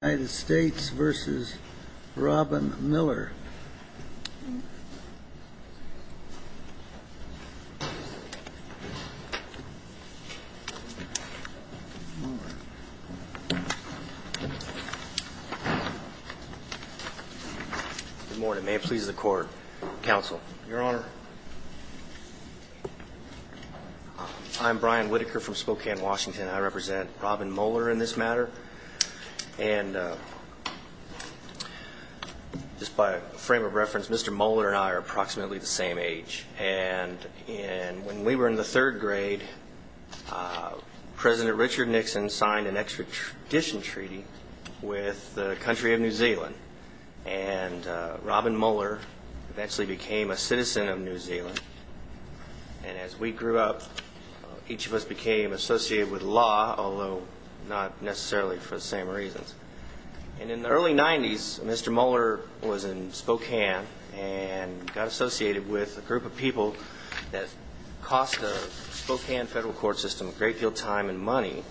Good morning. May it please the Court, Counsel. Your Honor, I'm Brian Whitaker from Spokane, Washington. I represent Robin Muller in this matter. Just by a frame of reference, Mr. Muller and I are approximately the same age. When we were in the third grade, President Richard Nixon signed an extradition treaty with the country of New Zealand. And Robin Muller eventually became a citizen of New Zealand. And as we grew up, each of us became associated with law, although not necessarily for the same reasons. And in the early 90s, Mr. Muller was in Spokane and got associated with a group of people that cost the Spokane federal court system a great deal of time and money.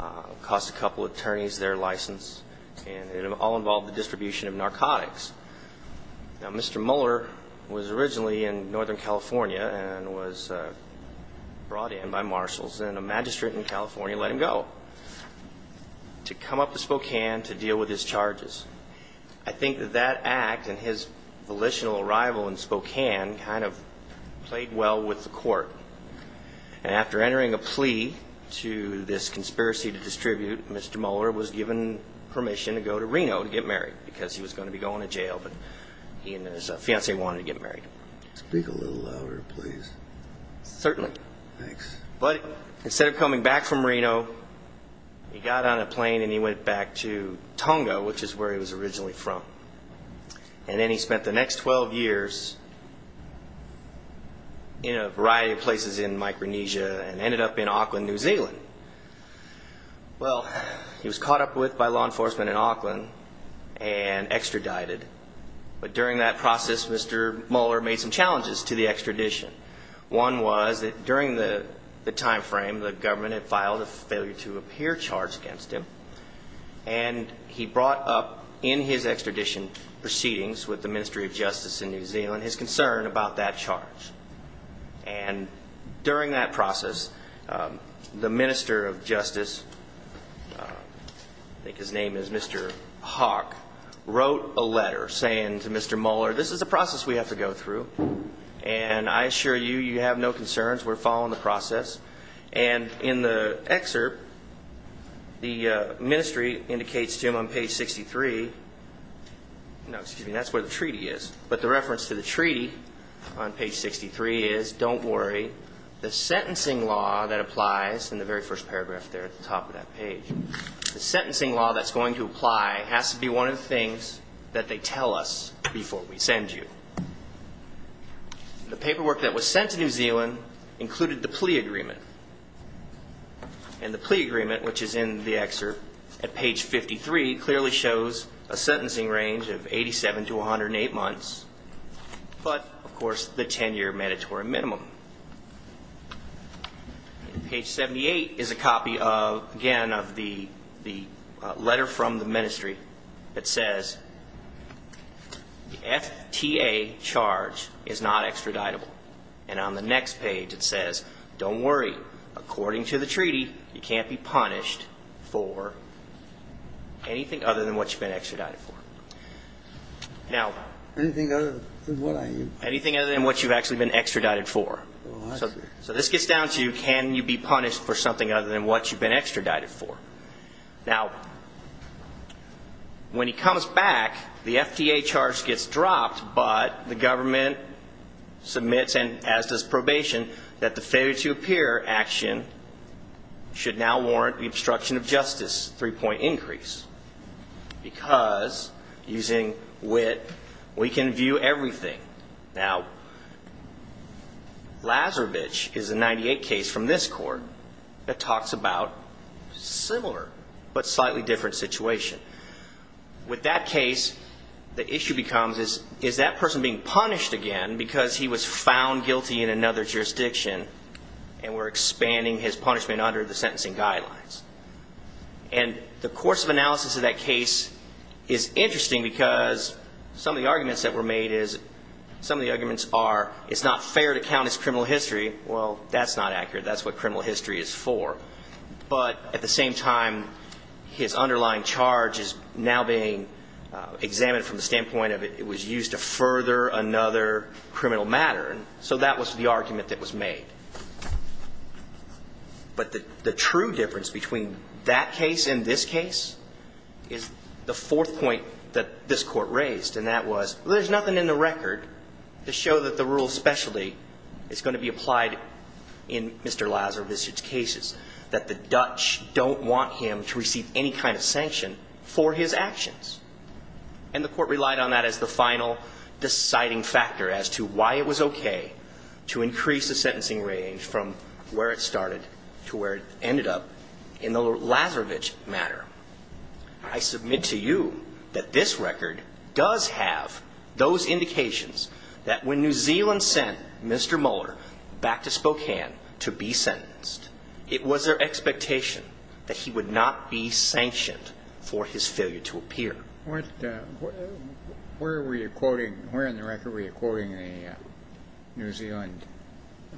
It cost a couple attorneys their license, and it all involved the distribution of narcotics. Now, Mr. Muller was originally in Northern California and was brought in by marshals, and a magistrate in California let him go to come up to Spokane to deal with his charges. I think that that act and his volitional arrival in Spokane kind of played well with the court. And after entering a plea to this conspiracy to distribute, Mr. Muller was given permission to go to Reno to get married because he was going to be going to jail, but he and his fiancée wanted to get married. Certainly. But instead of coming back from Reno, he got on a plane and he went back to Tonga, which is where he was originally from. And then he spent the next 12 years in a variety of places in Micronesia and ended up in Auckland, New Zealand. Well, he was caught up with by law enforcement in Auckland and extradited. But during that process, Mr. Muller made some challenges to the extradition. One was that during the timeframe, the government had filed a failure-to-appear charge against him, and he brought up in his extradition proceedings with the Ministry of Justice in New Zealand his concern about that charge. And during that process, the Minister of Justice, I think his name is Mr. Hawk, wrote a letter saying to Mr. Muller, this is a process we have to go through, and I assure you, you have no concerns. We're following the process. And in the excerpt, the Ministry indicates to him on page 63, no, excuse me, that's where the treaty is. But the reference to the treaty on page 63 is, don't worry, the sentencing law that applies in the very first paragraph there at the top of that page, the sentencing law that's going to apply has to be one of the things that they tell us before we send you. The paperwork that was sent to New Zealand included the plea agreement. And the plea agreement, which is in the excerpt at page 53, clearly shows a sentencing range of 87 to 108 months, but, of course, the 10-year mandatory minimum. Page 78 is a copy, again, of the letter from the Ministry that says the FTA charge is not extraditable. And on the next page, it says, don't worry, according to the treaty, you can't be punished for anything other than what you've been extradited for. Now, anything other than what you've actually been extradited for. So this gets down to, can you be punished for something other than what you've been extradited for? Now, when he comes back, the FTA charge gets dropped, but the government submits, and as does probation, that the failure-to-appear action should now warrant the obstruction of justice three-point increase. Because, using WIT, we can view everything. Now, Lazarevich is a 98 case from this court that talks about a similar but slightly different situation. With that case, the issue becomes, is that person being punished again because he was found guilty in another jurisdiction and we're expanding his punishment under the sentencing guidelines? And the course of analysis of that case is interesting because some of the arguments that were made is, some of the arguments are, it's not fair to count as criminal history. Well, that's not accurate. That's what criminal history is for. But at the same time, his underlying charge is now being examined from the standpoint of it was used to further another criminal matter. So that was the argument that was made. But the true difference between that case and this case is the fourth point that this Court raised, and that was, well, there's nothing in the record to show that the rule of specialty is going to be applied in Mr. Lazarevich's cases, that the Dutch don't want him to receive any kind of sanction for his actions. And the Court relied on that as the final deciding factor as to why it was okay to increase the sentencing range from where it started to where it ended up in the Lazarevich matter. I submit to you that this record does have those indications that when New Zealand sent Mr. Mueller back to Spokane to be sentenced, it was their expectation that he would not be sanctioned for his failure to appear. Where were you quoting? Where in the record were you quoting New Zealand?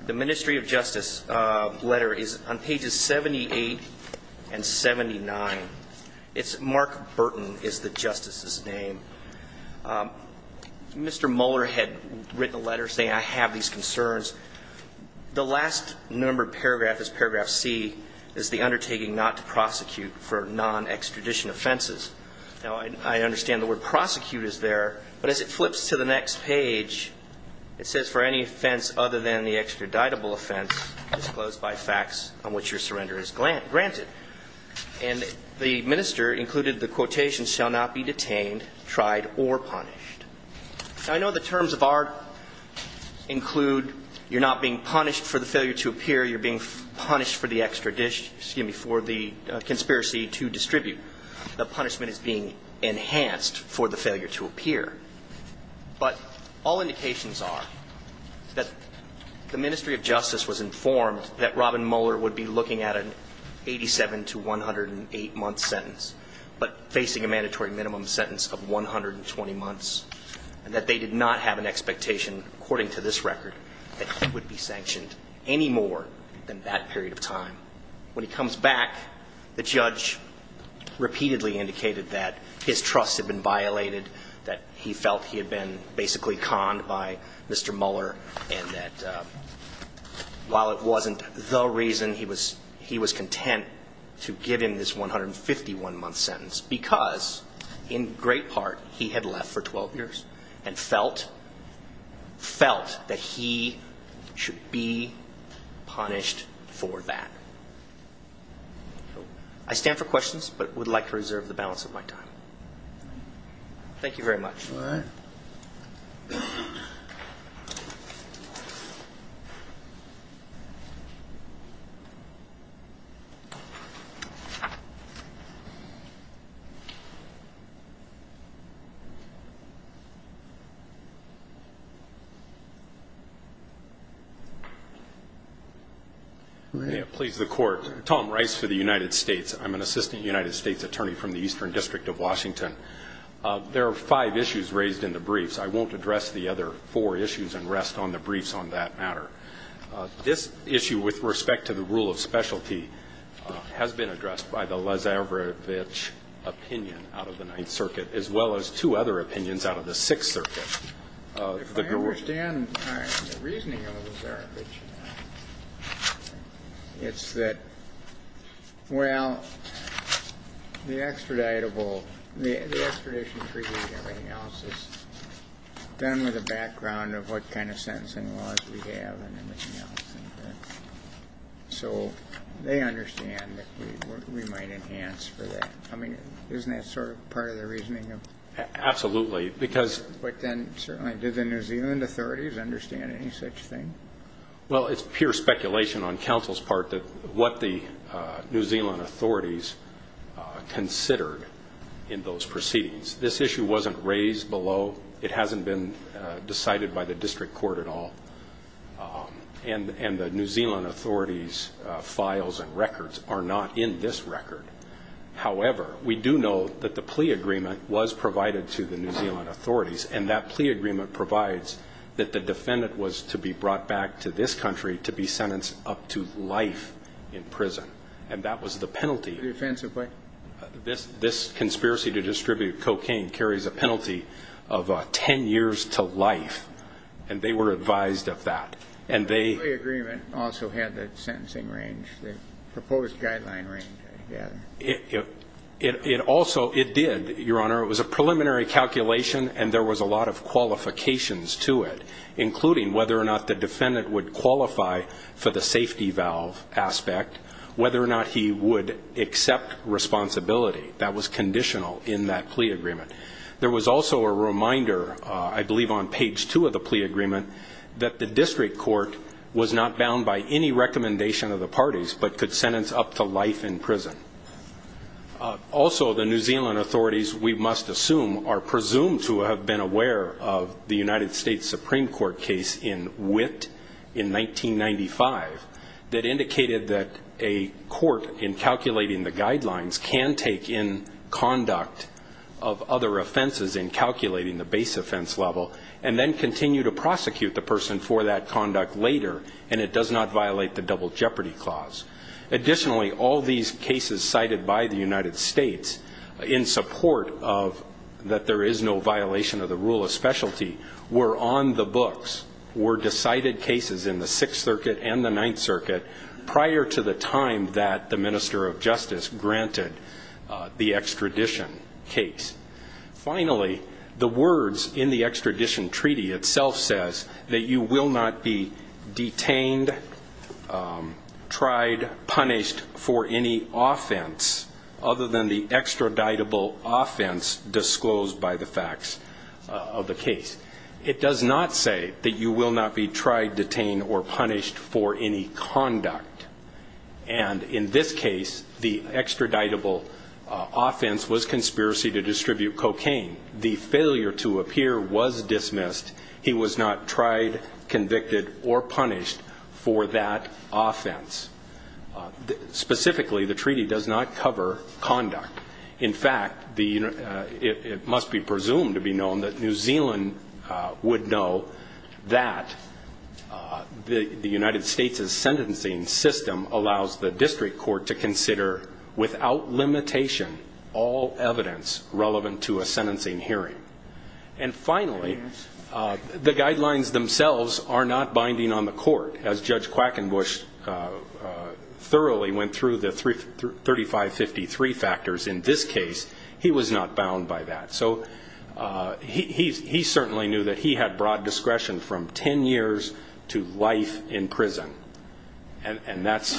The Ministry of Justice letter is on pages 78 and 79. It's Mark Burton is the Justice's name. Mr. Mueller had written a letter saying, I have these concerns. The last numbered paragraph is paragraph C, is the undertaking not to prosecute for non-extradition offenses. Now, I understand the word prosecute is there, but as it flips to the next page, it says, for any offense other than the extraditable offense disclosed by facts on which your surrender is granted. And the minister included the quotation, shall not be detained, tried, or punished. Now, I know the terms of art include you're not being punished for the failure to appear. You're being punished for the extra dish, excuse me, for the conspiracy to distribute. The punishment is being enhanced for the failure to appear. But all indications are that the Ministry of Justice was informed that Robin Mueller would be looking at an 87 to 108-month sentence, but facing a mandatory minimum sentence of 120 months. And that they did not have an expectation, according to this record, that he would be sanctioned any more than that period of time. Now, when he comes back, the judge repeatedly indicated that his trust had been violated, that he felt he had been basically conned by Mr. Mueller, and that while it wasn't the reason, he was content to give him this 151-month sentence, because in great part he had left for 12 years and felt that he should be punished for that. I stand for questions, but would like to reserve the balance of my time. Thank you very much. All right. May it please the Court. Tom Rice for the United States. I'm an assistant United States attorney from the Eastern District of Washington. There are five issues raised in the briefs. I won't address the other four issues and rest on the briefs on that matter. This issue with respect to the rule of specialty has been addressed by the Lazarevich opinion out of the Ninth Circuit, as well as two other opinions out of the Sixth Circuit. If I understand the reasoning of the Lazarevich, it's that, well, the extraditable the extradition treaty and everything else is done with a background of what kind of sentencing laws we have and everything else. So they understand that we might enhance for that. I mean, isn't that sort of part of the reasoning of the Lazarevich? Absolutely. But then, certainly, do the New Zealand authorities understand any such thing? Well, it's pure speculation on counsel's part what the New Zealand authorities considered in those proceedings. This issue wasn't raised below. It hasn't been decided by the district court at all. And the New Zealand authorities' files and records are not in this record. However, we do know that the plea agreement was provided to the New Zealand authorities, and that plea agreement provides that the defendant was to be brought back to this country to be sentenced up to life in prison. And that was the penalty. The offensive what? This conspiracy to distribute cocaine carries a penalty of 10 years to life, and they were advised of that. The plea agreement also had the sentencing range, the proposed guideline range, I gather. It also did, Your Honor. It was a preliminary calculation, and there was a lot of qualifications to it, including whether or not the defendant would qualify for the safety valve aspect, whether or not he would accept responsibility. That was conditional in that plea agreement. There was also a reminder, I believe on page two of the plea agreement, that the district court was not bound by any recommendation of the parties but could sentence up to life in prison. Also, the New Zealand authorities, we must assume, are presumed to have been aware of the United States Supreme Court case in Witt in 1995 that indicated that a court, in calculating the guidelines, can take in conduct of other offenses in calculating the base offense level and then continue to prosecute the person for that conduct later, and it does not violate the double jeopardy clause. Additionally, all these cases cited by the United States in support of that there is no violation of the rule of specialty were on the books, were decided cases in the Sixth Circuit and the Ninth Circuit, prior to the time that the Minister of Justice granted the extradition case. Finally, the words in the extradition treaty itself says that you will not be detained, tried, punished for any offense other than the extraditable offense disclosed by the facts of the case. It does not say that you will not be tried, detained, or punished for any conduct, and in this case, the extraditable offense was conspiracy to distribute cocaine. The failure to appear was dismissed. He was not tried, convicted, or punished for that offense. Specifically, the treaty does not cover conduct. In fact, it must be presumed to be known that New Zealand would know that the United States' sentencing system allows the district court to consider, without limitation, all evidence relevant to a sentencing hearing. And finally, the guidelines themselves are not binding on the court. As Judge Quackenbush thoroughly went through the 3553 factors in this case, he was not bound by that. So he certainly knew that he had broad discretion from 10 years to life in prison, and that's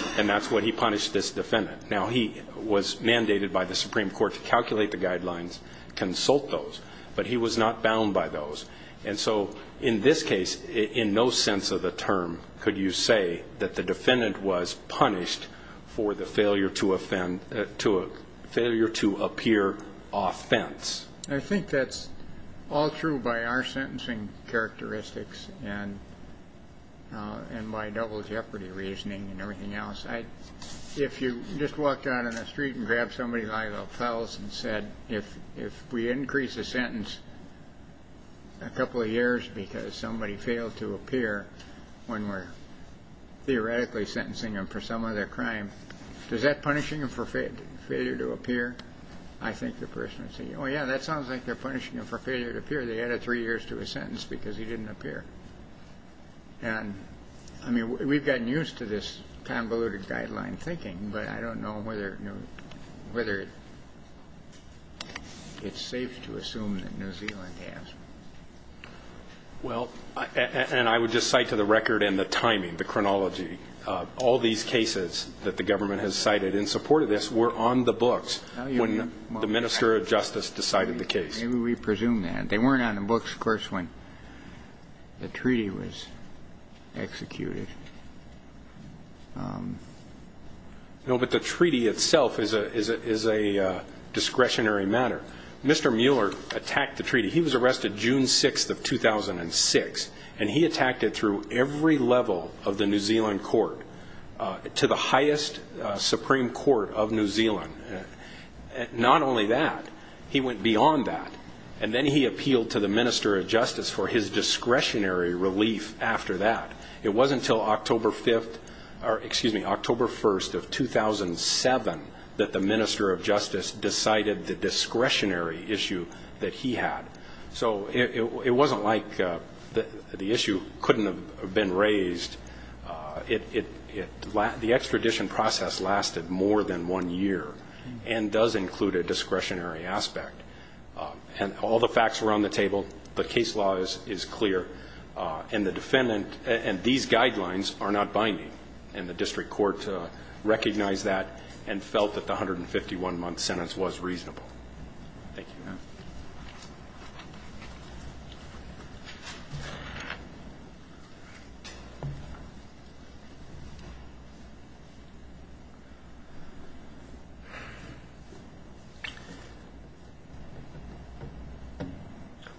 what he punished this defendant. Now, he was mandated by the Supreme Court to calculate the guidelines, consult those, but he was not bound by those. And so in this case, in no sense of the term could you say that the defendant was punished for the failure to appear offense. I think that's all true by our sentencing characteristics and by double jeopardy reasoning and everything else. If you just walked out on the street and grabbed somebody by the pelts and said, if we increase a sentence a couple of years because somebody failed to appear when we're theoretically sentencing them for some other crime, is that punishing them for failure to appear? I think the person would say, oh, yeah, that sounds like they're punishing them for failure to appear. They added three years to a sentence because he didn't appear. And, I mean, we've gotten used to this convoluted guideline thinking, but I don't know whether it's safe to assume that New Zealand has. Well, and I would just cite to the record and the timing, the chronology, all these cases that the government has cited in support of this were on the books when the minister of justice decided the case. Maybe we presume that. But they weren't on the books, of course, when the treaty was executed. No, but the treaty itself is a discretionary matter. Mr. Mueller attacked the treaty. He was arrested June 6th of 2006, and he attacked it through every level of the New Zealand court, to the highest supreme court of New Zealand. Not only that, he went beyond that. And then he appealed to the minister of justice for his discretionary relief after that. It wasn't until October 5th or, excuse me, October 1st of 2007 that the minister of justice decided the discretionary issue that he had. So it wasn't like the issue couldn't have been raised. The extradition process lasted more than one year and does include a discretionary aspect. And all the facts were on the table. The case law is clear. And the defendant and these guidelines are not binding. And the district court recognized that and felt that the 151-month sentence was reasonable. Thank you. Thank you.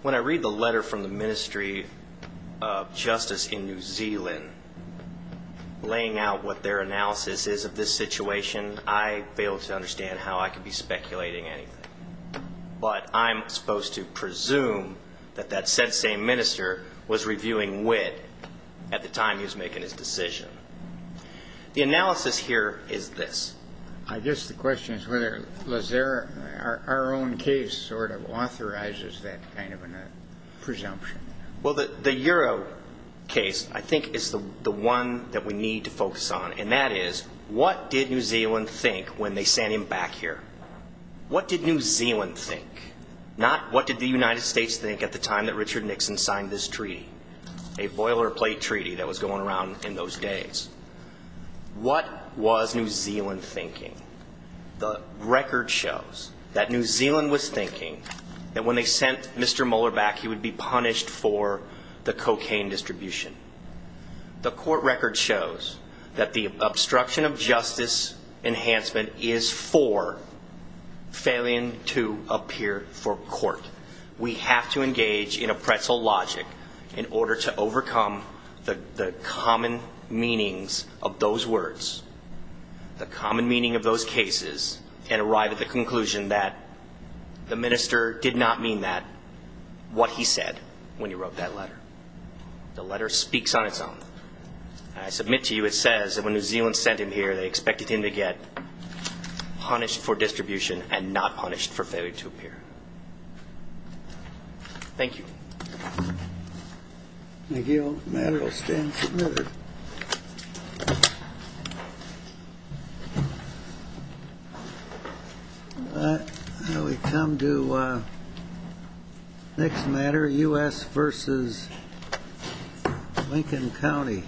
When I read the letter from the Ministry of Justice in New Zealand laying out what their analysis is of this situation, I failed to understand how I could be speculating anything. But I'm supposed to presume that that said same minister was reviewing WID at the time he was making his decision. The analysis here is this. I guess the question is whether our own case sort of authorizes that kind of a presumption. Well, the Euro case I think is the one that we need to focus on. And that is what did New Zealand think when they sent him back here? What did New Zealand think? Not what did the United States think at the time that Richard Nixon signed this treaty, a boilerplate treaty that was going around in those days. What was New Zealand thinking? The record shows that New Zealand was thinking that when they sent Mr. Mueller back, he would be punished for the cocaine distribution. The court record shows that the obstruction of justice enhancement is for failing to appear for court. We have to engage in a pretzel logic in order to overcome the common meanings of those words, the common meaning of those cases, and arrive at the conclusion that the minister did not mean that, what he said when he wrote that letter. The letter speaks on its own. I submit to you it says that when New Zealand sent him here, they expected him to get punished for distribution and not punished for failure to appear. Thank you. The matter will stand submitted. Thank you. We come to the next matter, U.S. versus Lincoln County.